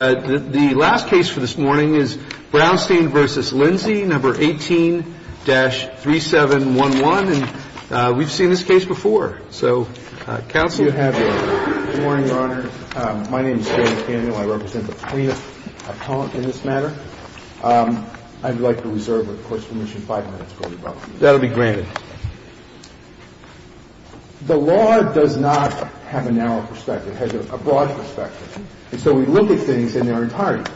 No. 18-3711, and we've seen this case before. So, counsel? Good morning, Your Honor. My name is Jay McDaniel. I represent the plaintiff's appellant in this matter. I'd like to reserve the Court's permission five minutes before we vote. That will be granted. The law does not have a narrow perspective. It has a broad perspective. And so we look at things in their entirety.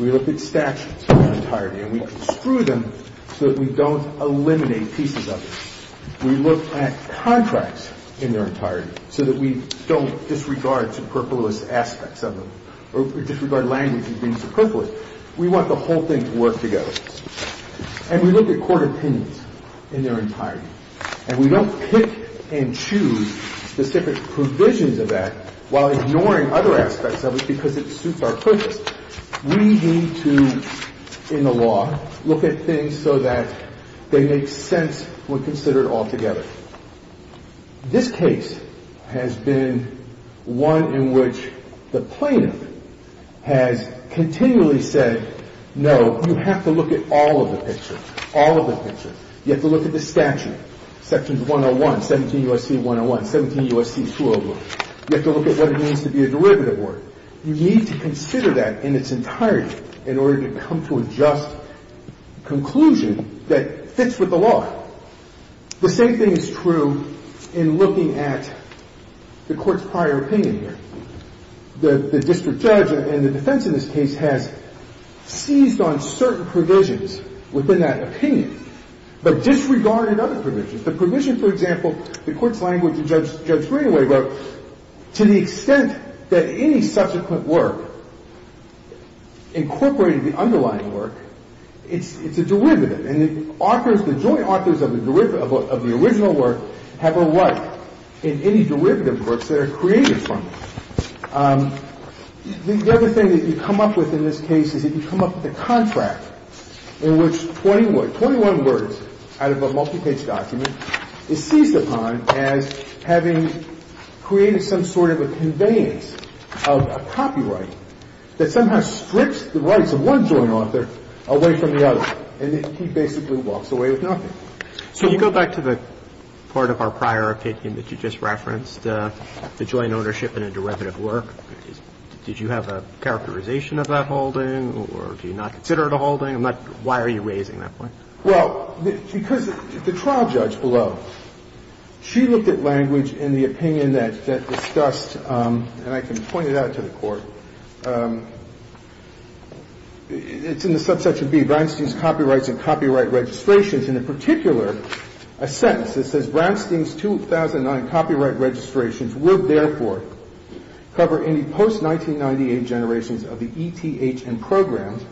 We look at statutes in their entirety, and we construe them so that we don't eliminate pieces of it. We look at contracts in their entirety so that we don't disregard superfluous aspects of them or disregard language as being superfluous. We want the whole thing to work together. And we look at court opinions in their entirety, and we don't pick and choose specific provisions of that while ignoring other aspects of it because it suits our purpose. We need to, in the law, look at things so that they make sense when considered altogether. This case has been one in which the plaintiff has continually said, no, you have to look at all of the pictures, all of the pictures. You have to look at the statute, sections 101, 17 U.S.C. 101, 17 U.S.C. 201. You have to look at what it means to be a derivative order. You need to consider that in its entirety in order to come to a just conclusion that fits with the law. The same thing is true in looking at the court's prior opinion here. The district judge and the defense in this case has seized on certain provisions within that opinion but disregarded other provisions. The provision, for example, the court's language in Judge Greenaway wrote, to the extent that any subsequent work incorporated the underlying work, it's a derivative. And the authors, the joint authors of the original work have a right in any derivative works that are created from it. The other thing that you come up with in this case is if you come up with a contract in which 21 words out of a multi-page document is seized upon as having created some sort of a conveyance of a copyright that somehow strips the rights of one joint author away from the other. And he basically walks away with nothing. So you go back to the part of our prior opinion that you just referenced, the joint ownership in a derivative work. I'm not sure if you have a characterization of that holding or do you not consider it a holding. Why are you raising that point? Well, because the trial judge below, she looked at language in the opinion that discussed, and I can point it out to the Court, it's in the subsection B, Brownstein's copyrights and copyright registrations. And in particular, a sentence that says Brownstein's 2009 copyright registrations would, therefore, cover any post-1998 generations of the ETHM programs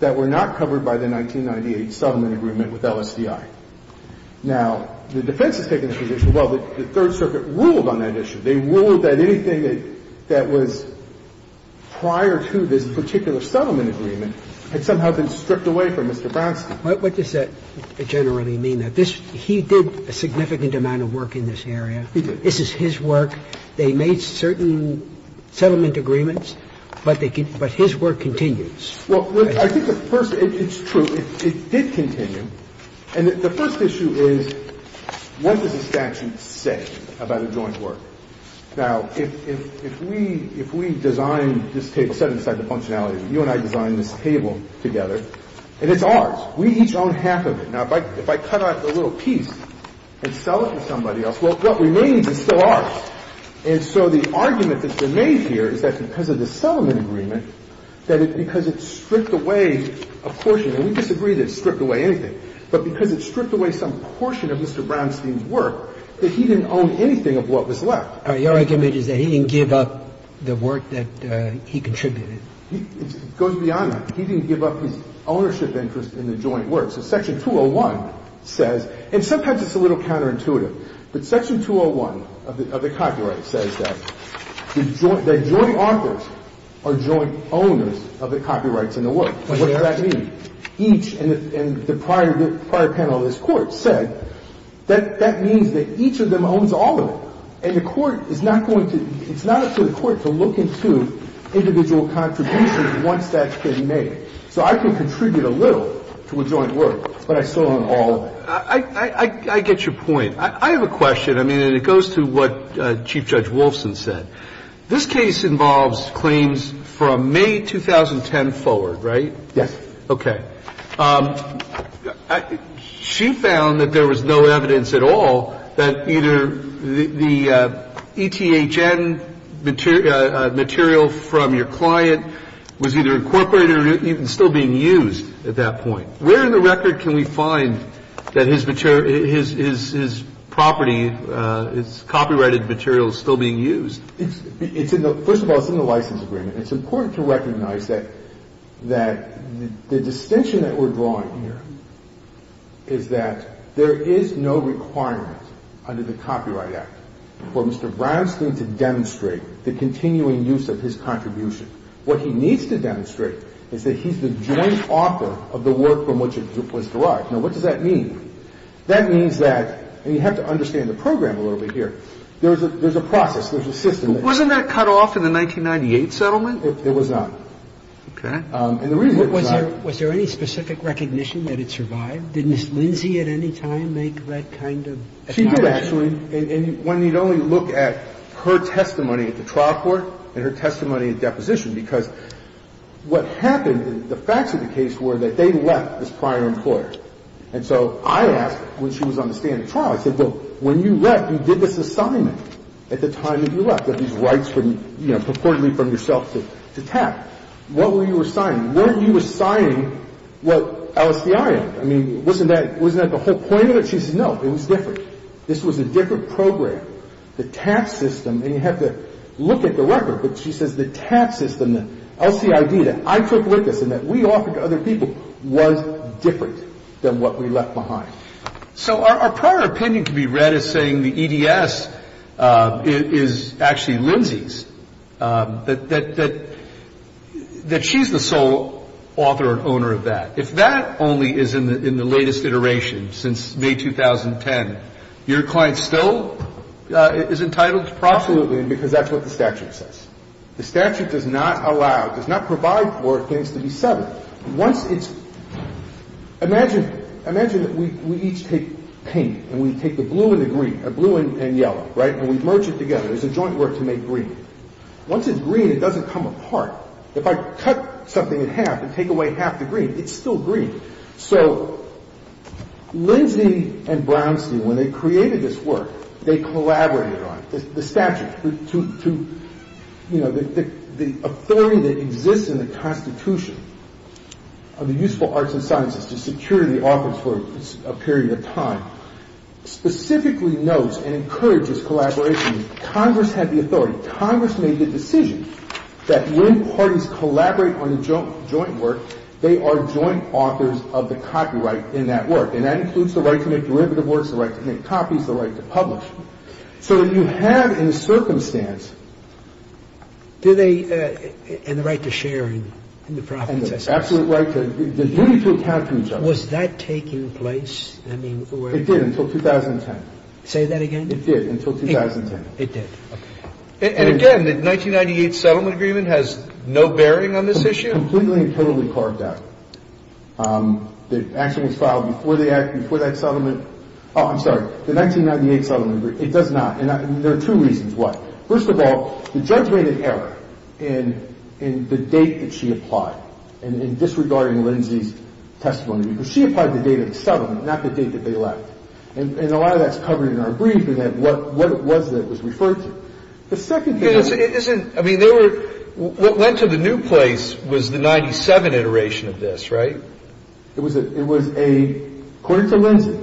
that were not covered by the 1998 settlement agreement with LSDI. Now, the defense has taken the position, well, the Third Circuit ruled on that issue. They ruled that anything that was prior to this particular settlement agreement had somehow been stripped away from Mr. Brownstein. But what does that generally mean? That this he did a significant amount of work in this area? He did. This is his work. They made certain settlement agreements, but his work continues. Well, I think at first it's true. It did continue. And the first issue is what does the statute say about a joint work? Now, if we design this table, set it aside to functionality, you and I designed this table together, and it's ours. We each own half of it. Now, if I cut out a little piece and sell it to somebody else, well, what remains is still ours. And so the argument that's been made here is that because of the settlement agreement, that it's because it stripped away a portion. And we disagree that it stripped away anything. But because it stripped away some portion of Mr. Brownstein's work, that he didn't own anything of what was left. All right. Your argument is that he didn't give up the work that he contributed. It goes beyond that. He didn't give up his ownership interest in the joint work. So Section 201 says, and sometimes it's a little counterintuitive, but Section 201 of the copyright says that joint authors are joint owners of the copyrights in the work. What does that mean? Each in the prior panel of this Court said that that means that each of them owns all of it. And the Court is not going to – it's not up to the Court to look into individual contributions once that's been made. So I can contribute a little to a joint work, but I still own all of it. I get your point. I have a question. I mean, and it goes to what Chief Judge Wolfson said. This case involves claims from May 2010 forward, right? Yes. Okay. She found that there was no evidence at all that either the ETHN material from your client was either incorporated or even still being used at that point. Where in the record can we find that his property, his copyrighted material is still being used? First of all, it's in the license agreement. It's important to recognize that the distinction that we're drawing here is that there is no requirement under the Copyright Act for Mr. Brownstein to demonstrate the continuing use of his contribution. What he needs to demonstrate is that he's the joint author of the work from which it was derived. Now, what does that mean? That means that – and you have to understand the program a little bit here. There's a process. There's a system. Wasn't that cut off in the 1998 settlement? It was not. Okay. And the reason it was not – Was there any specific recognition that it survived? Did Ms. Lindsay at any time make that kind of – She did, actually. And one need only look at her testimony at the trial court and her testimony at deposition because what happened – the facts of the case were that they left as prior employers. And so I asked when she was on the stand at trial, I said, well, when you left, you did this assignment at the time that you left, that these rights were, you know, purportedly from yourself to tap. What were you assigning? Weren't you assigning what LSDI is? I mean, wasn't that the whole point of it? She said, no. It was different. This was a different program. The tap system – and you have to look at the record, but she says the tap system, the LCID that I took with us and that we offered to other people was different than what we left behind. So our prior opinion can be read as saying the EDS is actually Lindsay's, that she's the sole author and owner of that. If that only is in the latest iteration, since May 2010, your client still is entitled to proselytizing because that's what the statute says. The statute does not allow, does not provide for things to be settled. Once it's – imagine, imagine that we each take pink and we take the blue and the green, the blue and yellow, right, and we merge it together. There's a joint work to make green. Once it's green, it doesn't come apart. If I cut something in half and take away half the green, it's still green. So Lindsay and Brownstein, when they created this work, they collaborated on it, the statute to, you know, the authority that exists in the Constitution of the useful arts and sciences to secure the authors for a period of time specifically notes and encourages collaboration. Congress had the authority. So Congress made the decision that when parties collaborate on a joint work, they are joint authors of the copyright in that work. And that includes the right to make derivative works, the right to make copies, the right to publish. So that you have in circumstance – Do they – and the right to share in the profits – And the absolute right to – the duty to account for each other. Was that taking place? I mean, where – It did until 2010. Say that again? It did until 2010. It did, okay. And again, the 1998 settlement agreement has no bearing on this issue? Completely and totally carved out. The action was filed before that settlement. Oh, I'm sorry. The 1998 settlement agreement, it does not. And there are two reasons why. First of all, the judge made an error in the date that she applied and in disregarding Lindsay's testimony. Because she applied the date of the settlement, not the date that they left. And a lot of that's covered in our brief and what it was that it was referred to. The second thing – It isn't – I mean, there were – what went to the new place was the 97 iteration of this, right? It was a – according to Lindsay,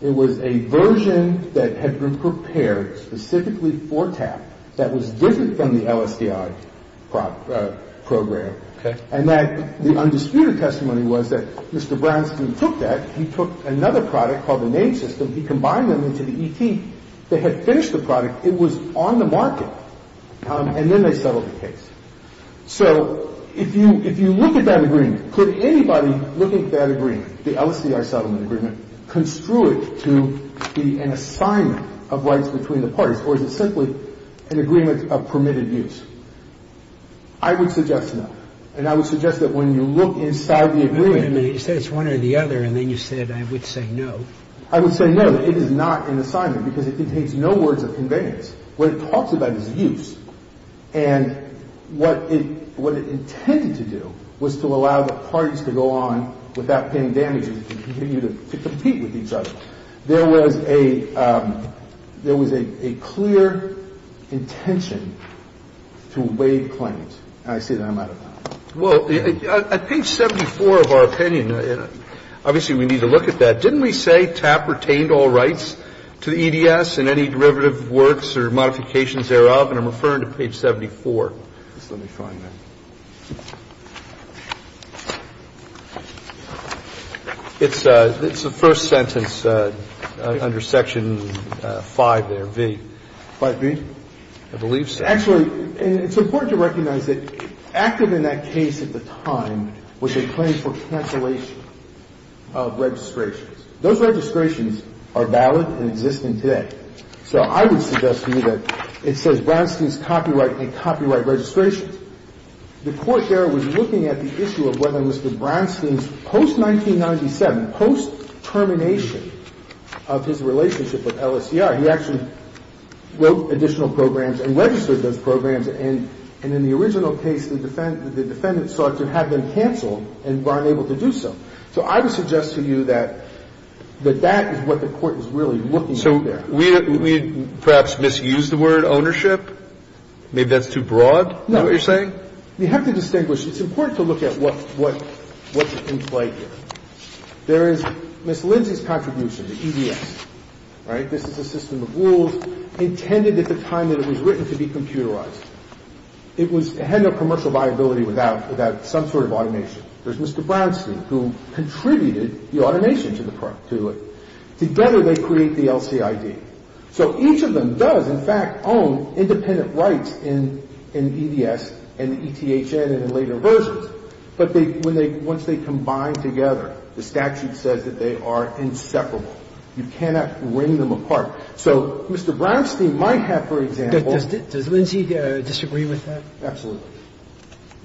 it was a version that had been prepared specifically for TAP that was different from the LSDI program. Okay. And that the undisputed testimony was that Mr. Brownstein took that. He took another product called the NAME system. He combined them into the ET that had finished the product. It was on the market. And then they settled the case. So if you look at that agreement, could anybody looking at that agreement, the LSDI settlement agreement, construe it to be an assignment of rights between the parties? Or is it simply an agreement of permitted use? I would suggest no. And I would suggest that when you look inside the agreement – Wait a minute. You said it's one or the other, and then you said I would say no. I would say no. It is not an assignment because it contains no words of conveyance. What it talks about is use. And what it – what it intended to do was to allow the parties to go on without paying damages and continue to compete with each other. There was a – there was a clear intention to waive claims. I would just say no. All right. I would just say no. Yes. I see that I'm out of time. Well, at page 74 of our opinion – and obviously we need to look at that. Didn't we say TAP retained all rights to the EDS in any derivative works or modifications thereof? And I'm referring to page 74. Just let me find that. It's the first sentence under Section 5 there, V. 5B? I believe so. Actually, it's important to recognize that active in that case at the time was a claim for cancellation of registrations. Those registrations are valid and existent today. So I would suggest to you that it says Brownstein's copyright and copyright registrations. The Court there was looking at the issue of whether Mr. Brownstein's post-1997, post-termination of his relationship with LSCI, he actually wrote additional programs and registered those programs. And in the original case, the defendant sought to have them canceled and were unable to do so. So I would suggest to you that that is what the Court was really looking at there. We perhaps misused the word ownership. Maybe that's too broad, is that what you're saying? No. We have to distinguish. It's important to look at what's in play here. There is Ms. Lindsay's contribution to EDS, right? This is a system of rules intended at the time that it was written to be computerized. It had no commercial viability without some sort of automation. There's Mr. Brownstein who contributed the automation to it. Together, they create the LCID. So each of them does, in fact, own independent rights in EDS and ETHN and in later versions. But they – when they – once they combine together, the statute says that they are inseparable. You cannot bring them apart. So Mr. Brownstein might have, for example – Does Lindsay disagree with that? Absolutely.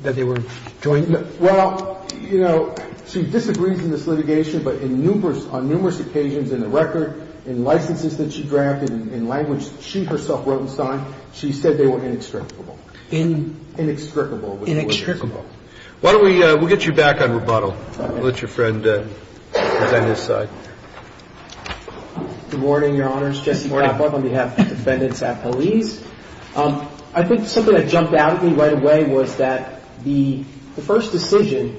That they were joined? Well, you know, she disagrees in this litigation, but in numerous – on numerous occasions in the record, in licenses that she drafted, in language that she herself wrote and signed, she said they were inextricable. In? Inextricable. Inextricable. Why don't we – we'll get you back on rebuttal. We'll let your friend defend his side. Good morning, Your Honors. Jesse Brownstein on behalf of the defendants at police. I think something that jumped out at me right away was that the first decision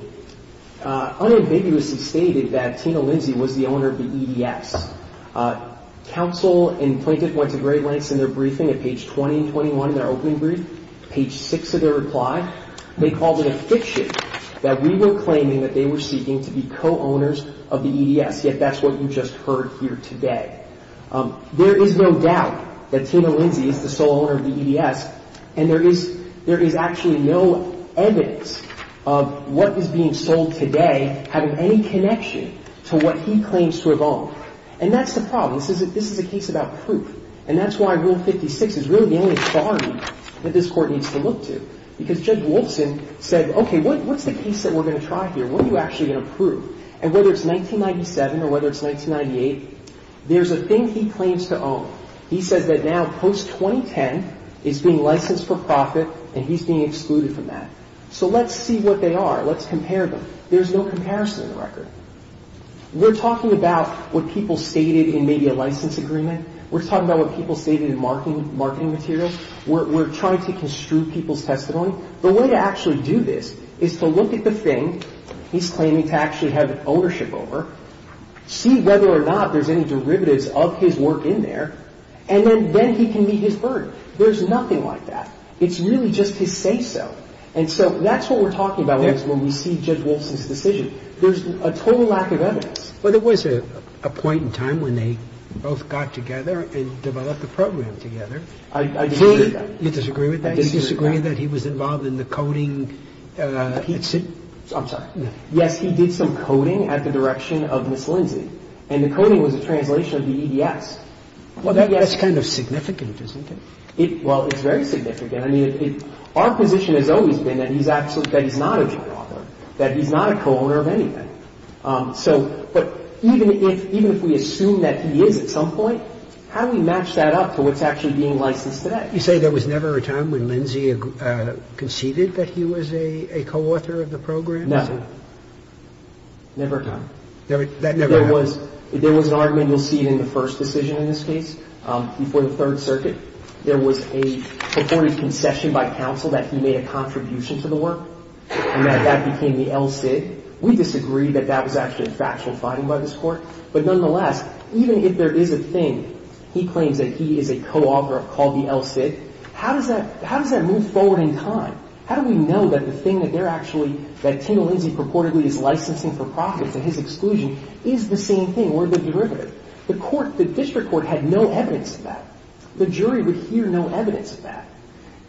unambiguously stated that Tina Lindsay was the owner of the EDS. Counsel and plaintiff went to great lengths in their briefing at page 20 and 21 in their opening brief. Page 6 of their reply, they called it a fiction that we were claiming that they were seeking to be co-owners of the EDS, yet that's what you just heard here today. There is no doubt that Tina Lindsay is the sole owner of the EDS, and there is – there is actually no evidence of what is being sold today having any connection to what he claims to have owned. And that's the problem. This is – this is a case about proof, and that's why Rule 56 is really the only bar that this Court needs to look to, because Judge Wolfson said, okay, what's the case that we're going to try here? What are you actually going to prove? And whether it's 1997 or whether it's 1998, there's a thing he claims to own. He says that now post-2010, it's being licensed for profit, and he's being excluded from that. So let's see what they are. Let's compare them. There's no comparison in the record. We're talking about what people stated in maybe a license agreement. We're talking about what people stated in marketing materials. We're trying to construe people's testimony. The way to actually do this is to look at the thing he's claiming to actually have ownership over, see whether or not there's any derivatives of his work in there, and then he can meet his burden. There's nothing like that. It's really just his say-so. And so that's what we're talking about when we see Judge Wolfson's decision. There's a total lack of evidence. But there was a point in time when they both got together and developed a program together. I disagree with that. You disagree with that? I disagree with that. Did he disagree that he was involved in the coding? I'm sorry. Yes, he did some coding at the direction of Ms. Lindsay, and the coding was a translation of the EDS. Well, that's kind of significant, isn't it? Well, it's very significant. I mean, our position has always been that he's not a joint author, that he's not a co-owner of anything. But even if we assume that he is at some point, how do we match that up to what's actually being licensed today? You say there was never a time when Lindsay conceded that he was a co-author of the program? No. Never a time. That never happened? There was an argument. You'll see it in the first decision in this case, before the Third Circuit. There was a purported concession by counsel that he made a contribution to the work, and that that became the LCID. We disagree that that was actually a factual finding by this Court. But nonetheless, even if there is a thing, he claims that he is a co-author of what's called the LCID, how does that move forward in time? How do we know that the thing that they're actually, that Tina Lindsay purportedly is licensing for profits, and his exclusion, is the same thing, or the derivative? The District Court had no evidence of that. The jury would hear no evidence of that.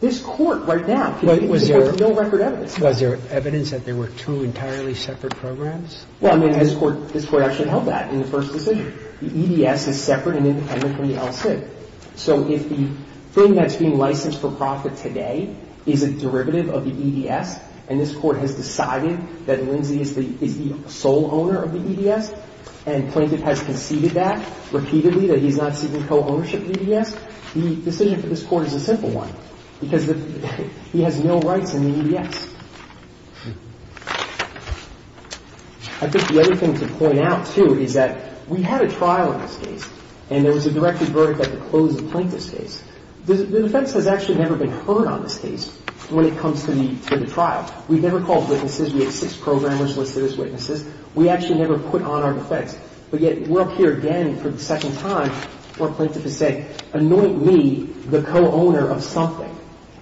This Court, right now, can hear no record evidence. Was there evidence that there were two entirely separate programs? Well, I mean, this Court actually held that in the first decision. The EDS is separate and independent from the LCID. So if the thing that's being licensed for profit today is a derivative of the EDS, and this Court has decided that Lindsay is the sole owner of the EDS, and Plaintiff has conceded that repeatedly, that he's not seeking co-ownership of the EDS, the decision for this Court is a simple one, because he has no rights in the EDS. I think the other thing to point out, too, is that we had a trial in this case, and there was a directed verdict at the close of Plaintiff's case. The defense has actually never been heard on this case when it comes to the trial. We've never called witnesses. We have six programmers listed as witnesses. We actually never put on our defense. But yet, we're up here again for the second time where Plaintiff is saying, anoint me the co-owner of something.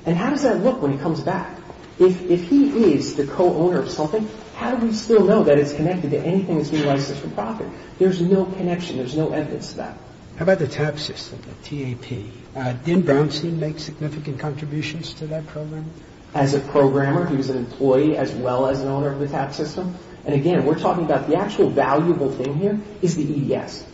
And how does that look when he comes back? If he is the co-owner of something, how do we still know that it's connected to anything that's being licensed for profit? There's no connection. There's no evidence to that. How about the TAP system, the T-A-P? Did Brownstein make significant contributions to that program? As a programmer, he was an employee as well as an owner of the TAP system. And again, we're talking about the actual valuable thing here is the EDS.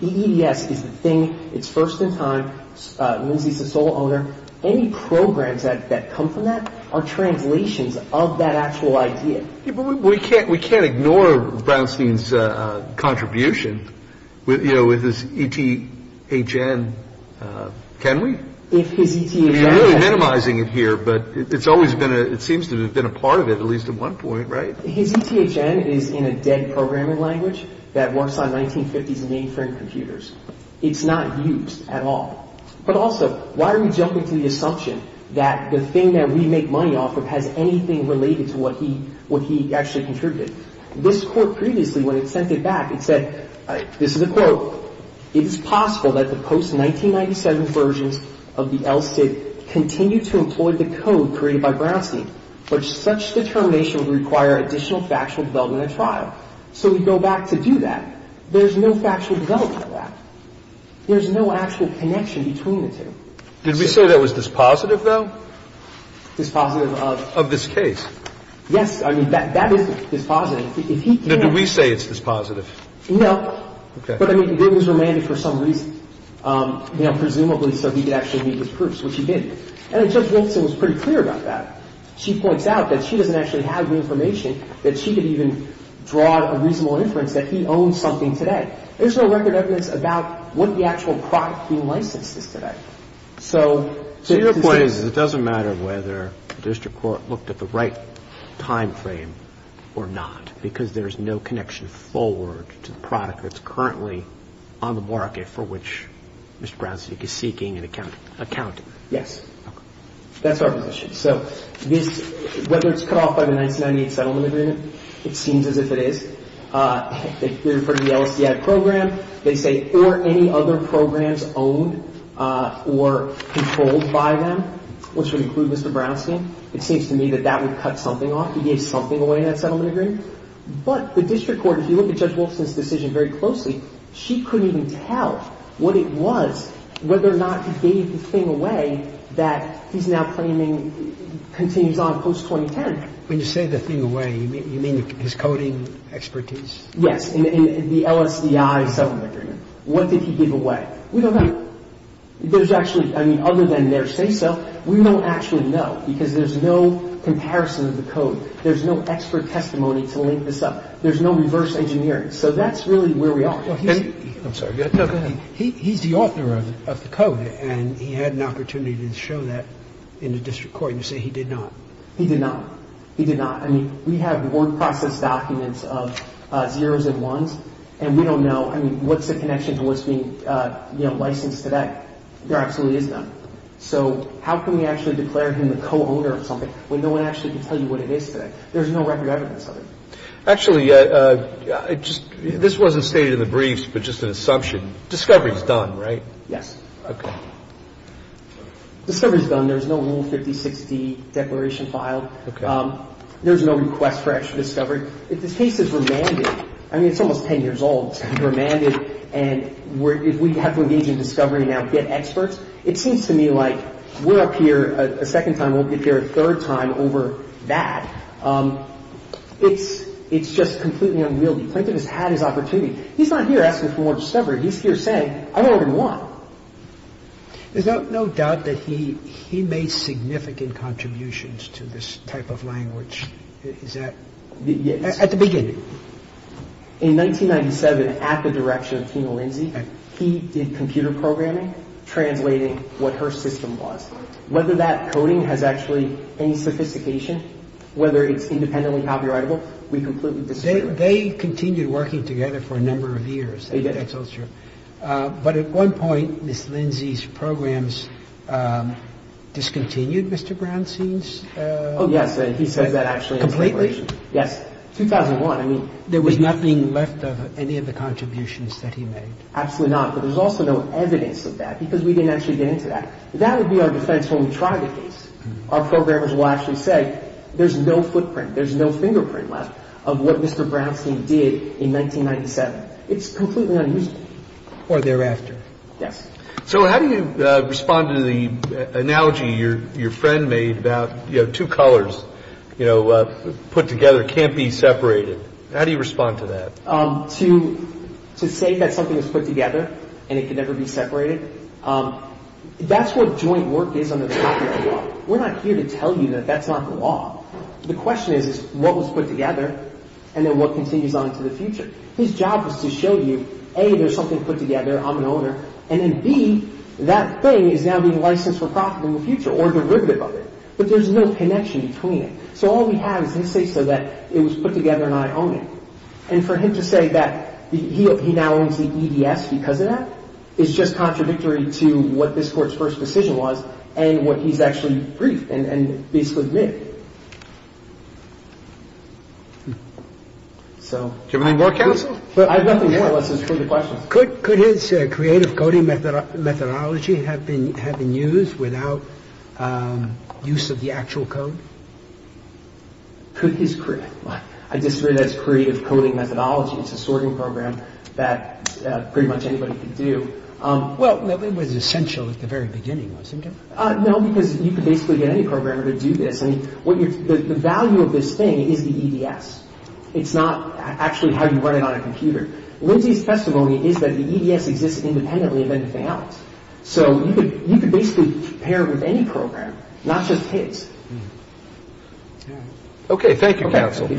The EDS is the thing. It's first in time. Lindsay is the sole owner. It's been around for a long time. But we've never had a case where any programs that come from that are translations of that actual idea. We can't ignore Brownstein's contribution with, you know, with his ETHN. Can we? If his ETHN — You're really minimizing it here. But it's always been a — it seems to have been a part of it, at least at one point. Right? His ETHN is in a dead programming language that works on 1950s mainframe computers. It's not used at all. But also, why are we jumping to the assumption that the thing that we make money off of has anything related to what he actually contributed? This court previously, when it sent it back, it said — this is a quote — It is possible that the post-1997 versions of the LSIT continue to employ the code created by Brownstein. But such determination would require additional factual development at trial. So we go back to do that. There's no factual development of that. There's no actual connection between the two. Did we say that was dispositive, though? Dispositive of? Of this case. Yes. I mean, that is dispositive. If he can't — No, do we say it's dispositive? No. Okay. But, I mean, he was remanded for some reason, you know, presumably so he could actually meet his proofs, which he did. And Judge Wilson was pretty clear about that. She points out that she doesn't actually have the information that she could even draw a reasonable inference that he owns something today. There's no record evidence about what the actual product he licensed is today. So — So your point is it doesn't matter whether the district court looked at the right timeframe or not, because there's no connection forward to the product that's currently on the market for which Mr. Brownstein is seeking an account. Yes. Okay. That's our position. So this — whether it's cut off by the 1998 settlement agreement, it seems as if it is. If we're referring to the LSDI program, they say, or any other programs owned or controlled by them, which would include Mr. Brownstein, it seems to me that that would cut something off. I mean, it's not that he gave something away in that settlement agreement. But the district court, if you look at Judge Wilson's decision very closely, she couldn't even tell what it was, whether or not he gave the thing away that he's now claiming continues on post-2010. When you say the thing away, you mean his coding expertise? Yes. In the LSDI settlement agreement. What did he give away? We don't have — there's actually — I mean, other than they're saying so, we don't actually know because there's no comparison of the code. There's no expert testimony to link this up. There's no reverse engineering. So that's really where we are. I'm sorry. Go ahead. He's the author of the code, and he had an opportunity to show that in the district court and say he did not. He did not. He did not. I mean, we have word process documents of zeros and ones, and we don't know. I mean, what's the connection to what's being, you know, licensed today? There absolutely is none. So how can we actually declare him the co-owner of something when no one actually can tell you what it is today? There's no record evidence of it. Actually, this wasn't stated in the briefs, but just an assumption. Discovery's done, right? Yes. Okay. Discovery's done. There's no Rule 5060 declaration filed. Okay. There's no request for actual discovery. If this case is remanded — I mean, it's almost 10 years old. It's been remanded, and if we have to engage in discovery and now get experts, it seems to me like we're up here a second time. We'll get here a third time over that. It's just completely unwieldy. Plaintiff has had his opportunity. He's not here asking for more discovery. He's here saying, I don't even want. There's no doubt that he made significant contributions to this type of language. Is that — at the beginning. In 1997, at the direction of Tina Lindsay, he did computer programming, translating what her system was. Whether that coding has actually any sophistication, whether it's independently copyrightable, we completely disagree. They continued working together for a number of years. They did? That's all true. But at one point, Ms. Lindsay's programs discontinued, Mr. Brownstein's — Oh, yes. He says that actually in his declaration. Completely? In his declaration. Yes. 2001, I mean — There was nothing left of any of the contributions that he made. Absolutely not. But there's also no evidence of that because we didn't actually get into that. That would be our defense when we tried the case. Our programmers will actually say there's no footprint, there's no fingerprint left of what Mr. Brownstein did in 1997. It's completely unusable. Or thereafter. Yes. So how do you respond to the analogy your friend made about two colors put together can't be separated? How do you respond to that? To say that something is put together and it can never be separated, that's what joint work is under the copyright law. We're not here to tell you that that's not the law. The question is what was put together and then what continues on into the future. His job was to show you, A, there's something put together, I'm an owner, and then, B, that thing is now being licensed for profit in the future or derivative of it. But there's no connection between it. So all we have is his case so that it was put together and I own it. And for him to say that he now owns the EDS because of that is just contradictory to what this court's first decision was and what he's actually briefed and basically admitted. Do you have anything more, counsel? I have nothing more unless there's further questions. Could his creative coding methodology have been used without use of the actual code? I disagree that it's creative coding methodology. It's a sorting program that pretty much anybody can do. Well, it was essential at the very beginning, wasn't it? No, because you could basically get any programmer to do this. The value of this thing is the EDS. It's not actually how you run it on a computer. Lindsay's testimony is that the EDS exists independently of anything else. So you could basically pair it with any programmer, not just his. Okay. Thank you, counsel. Okay.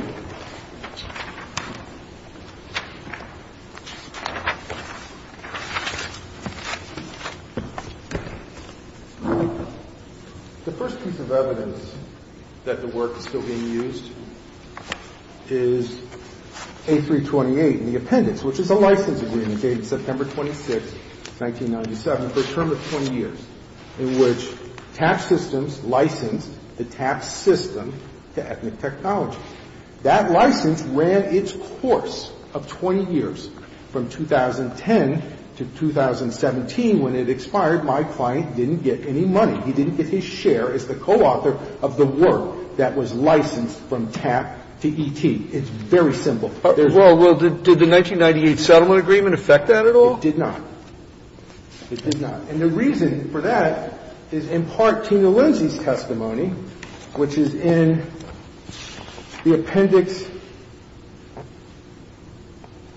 The first piece of evidence that the work is still being used is A328. The appendix, which is a license agreement dated September 26, 1997 for a term of 20 years in which TAP systems licensed the TAP system to Ethnic Technology. That license ran its course of 20 years from 2010 to 2017. When it expired, my client didn't get any money. He didn't get his share as the coauthor of the work that was licensed from TAP to ET. It's very simple. It's not, therefore, licensed to any other EDS system. But it's not licensed to any other EDS system. Well, well, did the 1998 settlement agreement affect that at all? It did not. It did not. And the reason for that is in part to Lindsay's testimony, which is in the appendix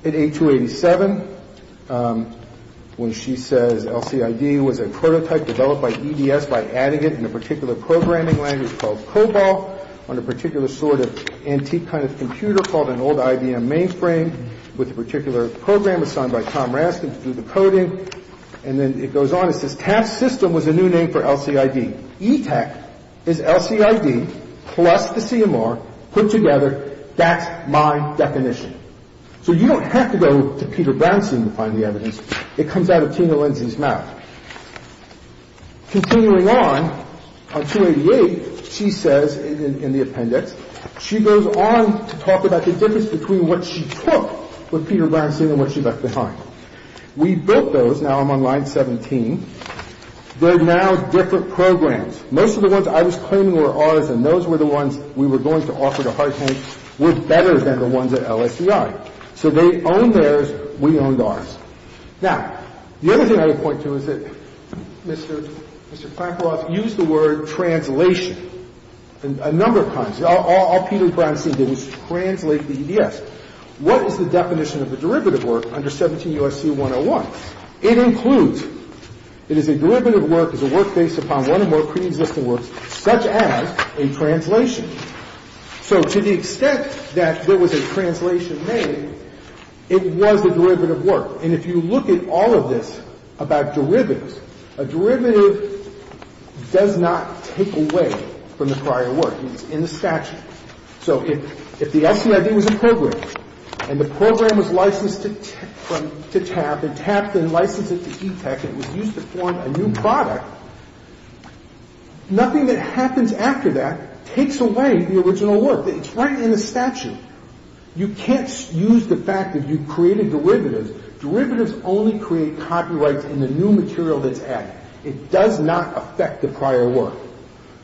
at 8287 when she says LCID was a prototype developed by EDS by adding it in a particular programming language called COBOL on a particular sort of antique kind of computer called an old IBM mainframe with a particular program assigned by Tom Raskin to do the coding. And then it goes on. It says TAPS system was a new name for LCID. ETAC is LCID plus the CMR put together. That's my definition. So you don't have to go to Peter Brownstein to find the evidence. It comes out of Tina Lindsay's mouth. Continuing on, on 288, she says in the appendix, she goes on to talk about the difference between what she took from Peter Brownstein and what she left behind. We built those. Now I'm on line 17. They're now different programs. Most of the ones I was claiming were ours and those were the ones we were going to offer to Hartank were better than the ones at LCID. So they owned theirs. We owned ours. Now, the other thing I would point to is that Mr. Plankroth used the word translation a number of times. All Peter Brownstein did was translate the EDS. What is the definition of the derivative work under 17 U.S.C. 101? It includes, it is a derivative work, is a work based upon one or more preexisting works such as a translation. So to the extent that there was a translation made, it was a derivative work. And if you look at all of this about derivatives, a derivative does not take away from the prior work. It's in the statute. So if the LCID was a program and the program was licensed to TAP and TAP then licensed it to ETEC and it was used to form a new product, nothing that happens after that takes away the original work. It's right in the statute. You can't use the fact that you created derivatives. Derivatives only create copyrights in the new material that's added. It does not affect the prior work.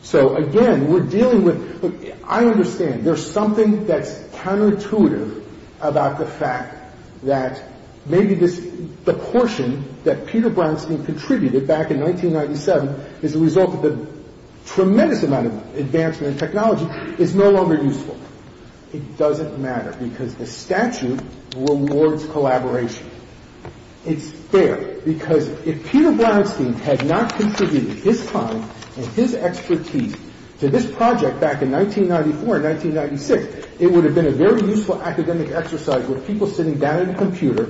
So, again, we're dealing with, look, I understand there's something that's counterintuitive about the fact that maybe this, the portion that Peter Brownstein contributed back in 1997 is a result of the tremendous amount of advancement in technology is no longer useful. It doesn't matter because the statute rewards collaboration. It's fair because if Peter Brownstein had not contributed his time and his expertise to this project back in 1994 and 1996, it would have been a very useful academic exercise with people sitting down at a computer,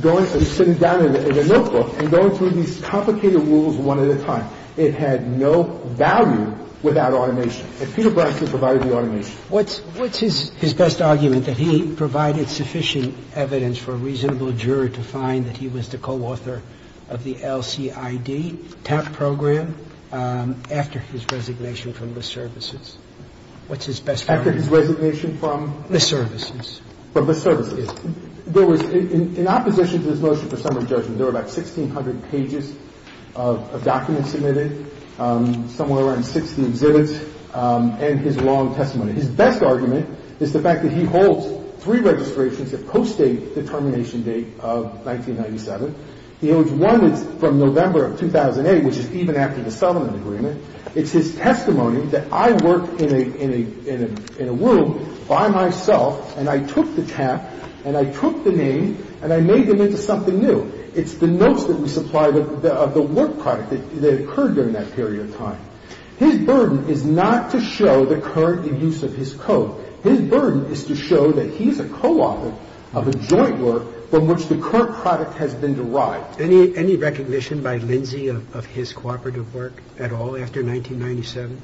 going and sitting down at a notebook and going through these complicated rules one at a time. It had no value without automation. And Peter Brownstein provided the automation. I'll leave it at that. And I'll leave it at that. Thank you. What's his best argument, that he provided sufficient evidence for a reasonable juror to find that he was the co-author of the LCID TAP program after his resignation from the services? What's his best argument? After his resignation from? The services. From the services. There was, in opposition to his motion for summary judgment, there were about 1,600 pages of documents submitted, somewhere around 60 exhibits, and his long testimony. His best argument is the fact that he holds three registrations that post-date the termination date of 1997. He holds one that's from November of 2008, which is even after the settlement agreement. It's his testimony that I work in a room by myself, and I took the TAP, and I took the name, and I made them into something new. It's the notes that we supply of the work product that occurred during that period of time. His burden is not to show the current use of his code. His burden is to show that he's a co-author of a joint work from which the current product has been derived. Any recognition by Lindsay of his cooperative work at all after 1997?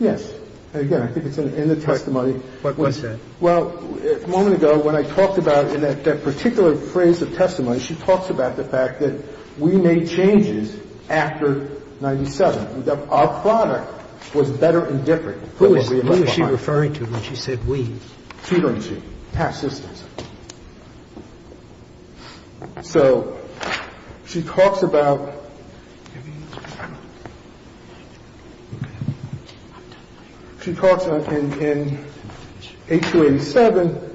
Yes. Again, I think it's in the testimony. What was that? Well, a moment ago, when I talked about in that particular phrase of testimony, she talks about the fact that we made changes after 1997, that our product was better and different. Who is she referring to when she said we? She's referring to TAP systems. So she talks about ñ she talks in H-287,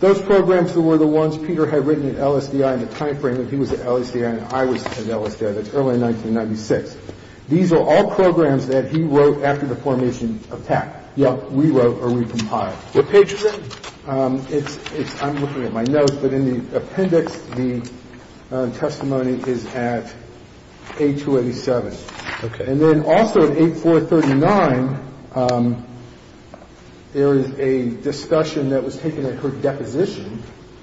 those programs that were the ones Peter had written at LSDI in the time frame that he was at LSDI and I was at LSDI. That's early 1996. These are all programs that he wrote after the formation of TAP. So in the testimony, you can see that the testimony is in H-287. What page is it? Yeah. We wrote or we compiled. What page is it? I'm looking at my notes, but in the appendix, the testimony is at H-287. Okay. And then also at 8439, there is a discussion that was taken at her deposition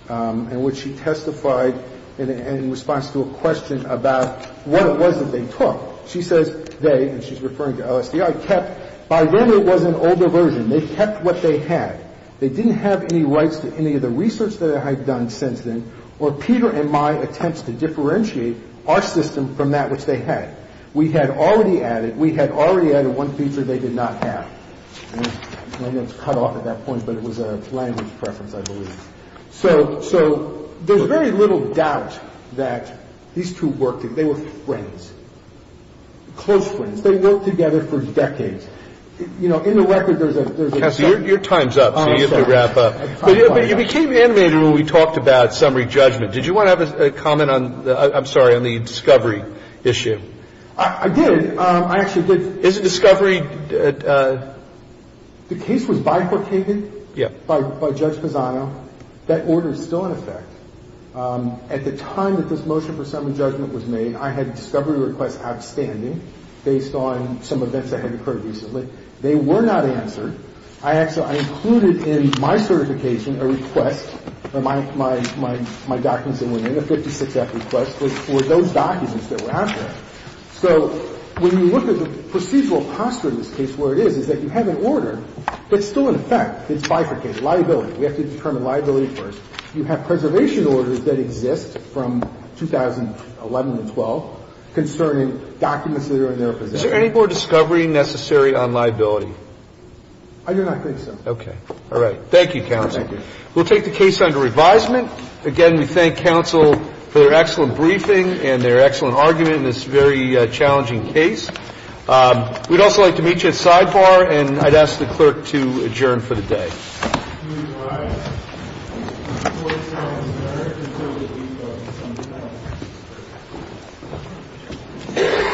in which she testified in response to a question about what it was that they took. She says they, and she's referring to LSDI, kept ñ by then it was an older version. They kept what they had. They didn't have any rights to any of the research that I had done since then or Peter and my attempts to differentiate our system from that which they had. We had already added ñ we had already added one feature they did not have. I know it's cut off at that point, but it was a language preference, I believe. So there's very little doubt that these two worked ñ they were friends, close friends. They worked together for decades. You know, in the record, there's a ñ Cassie, your time's up, so you have to wrap up. But you became animated when we talked about summary judgment. Did you want to have a comment on ñ I'm sorry, on the discovery issue? I did. I actually did. Is the discovery ñ The case was bifurcated by Judge Pisano. That order is still in effect. At the time that this motion for summary judgment was made, I had discovery requests outstanding based on some events that had occurred recently. They were not answered. I actually ñ I included in my certification a request, my documents that went in, a 56-F request for those documents that were out there. So when you look at the procedural posture in this case, where it is, is that you have an order, but it's still in effect. It's bifurcated. Liability. We have to determine liability first. You have preservation orders that exist from 2011 to 2012 concerning documents that are in their possession. Is there any more discovery necessary on liability? I do not think so. Okay. All right. Thank you, counsel. Thank you. We'll take the case under revisement. Again, we thank counsel for their excellent briefing and their excellent argument in this very challenging case. We'd also like to meet you at sidebar, and I'd ask the clerk to adjourn for the day. Thank you. Thank you.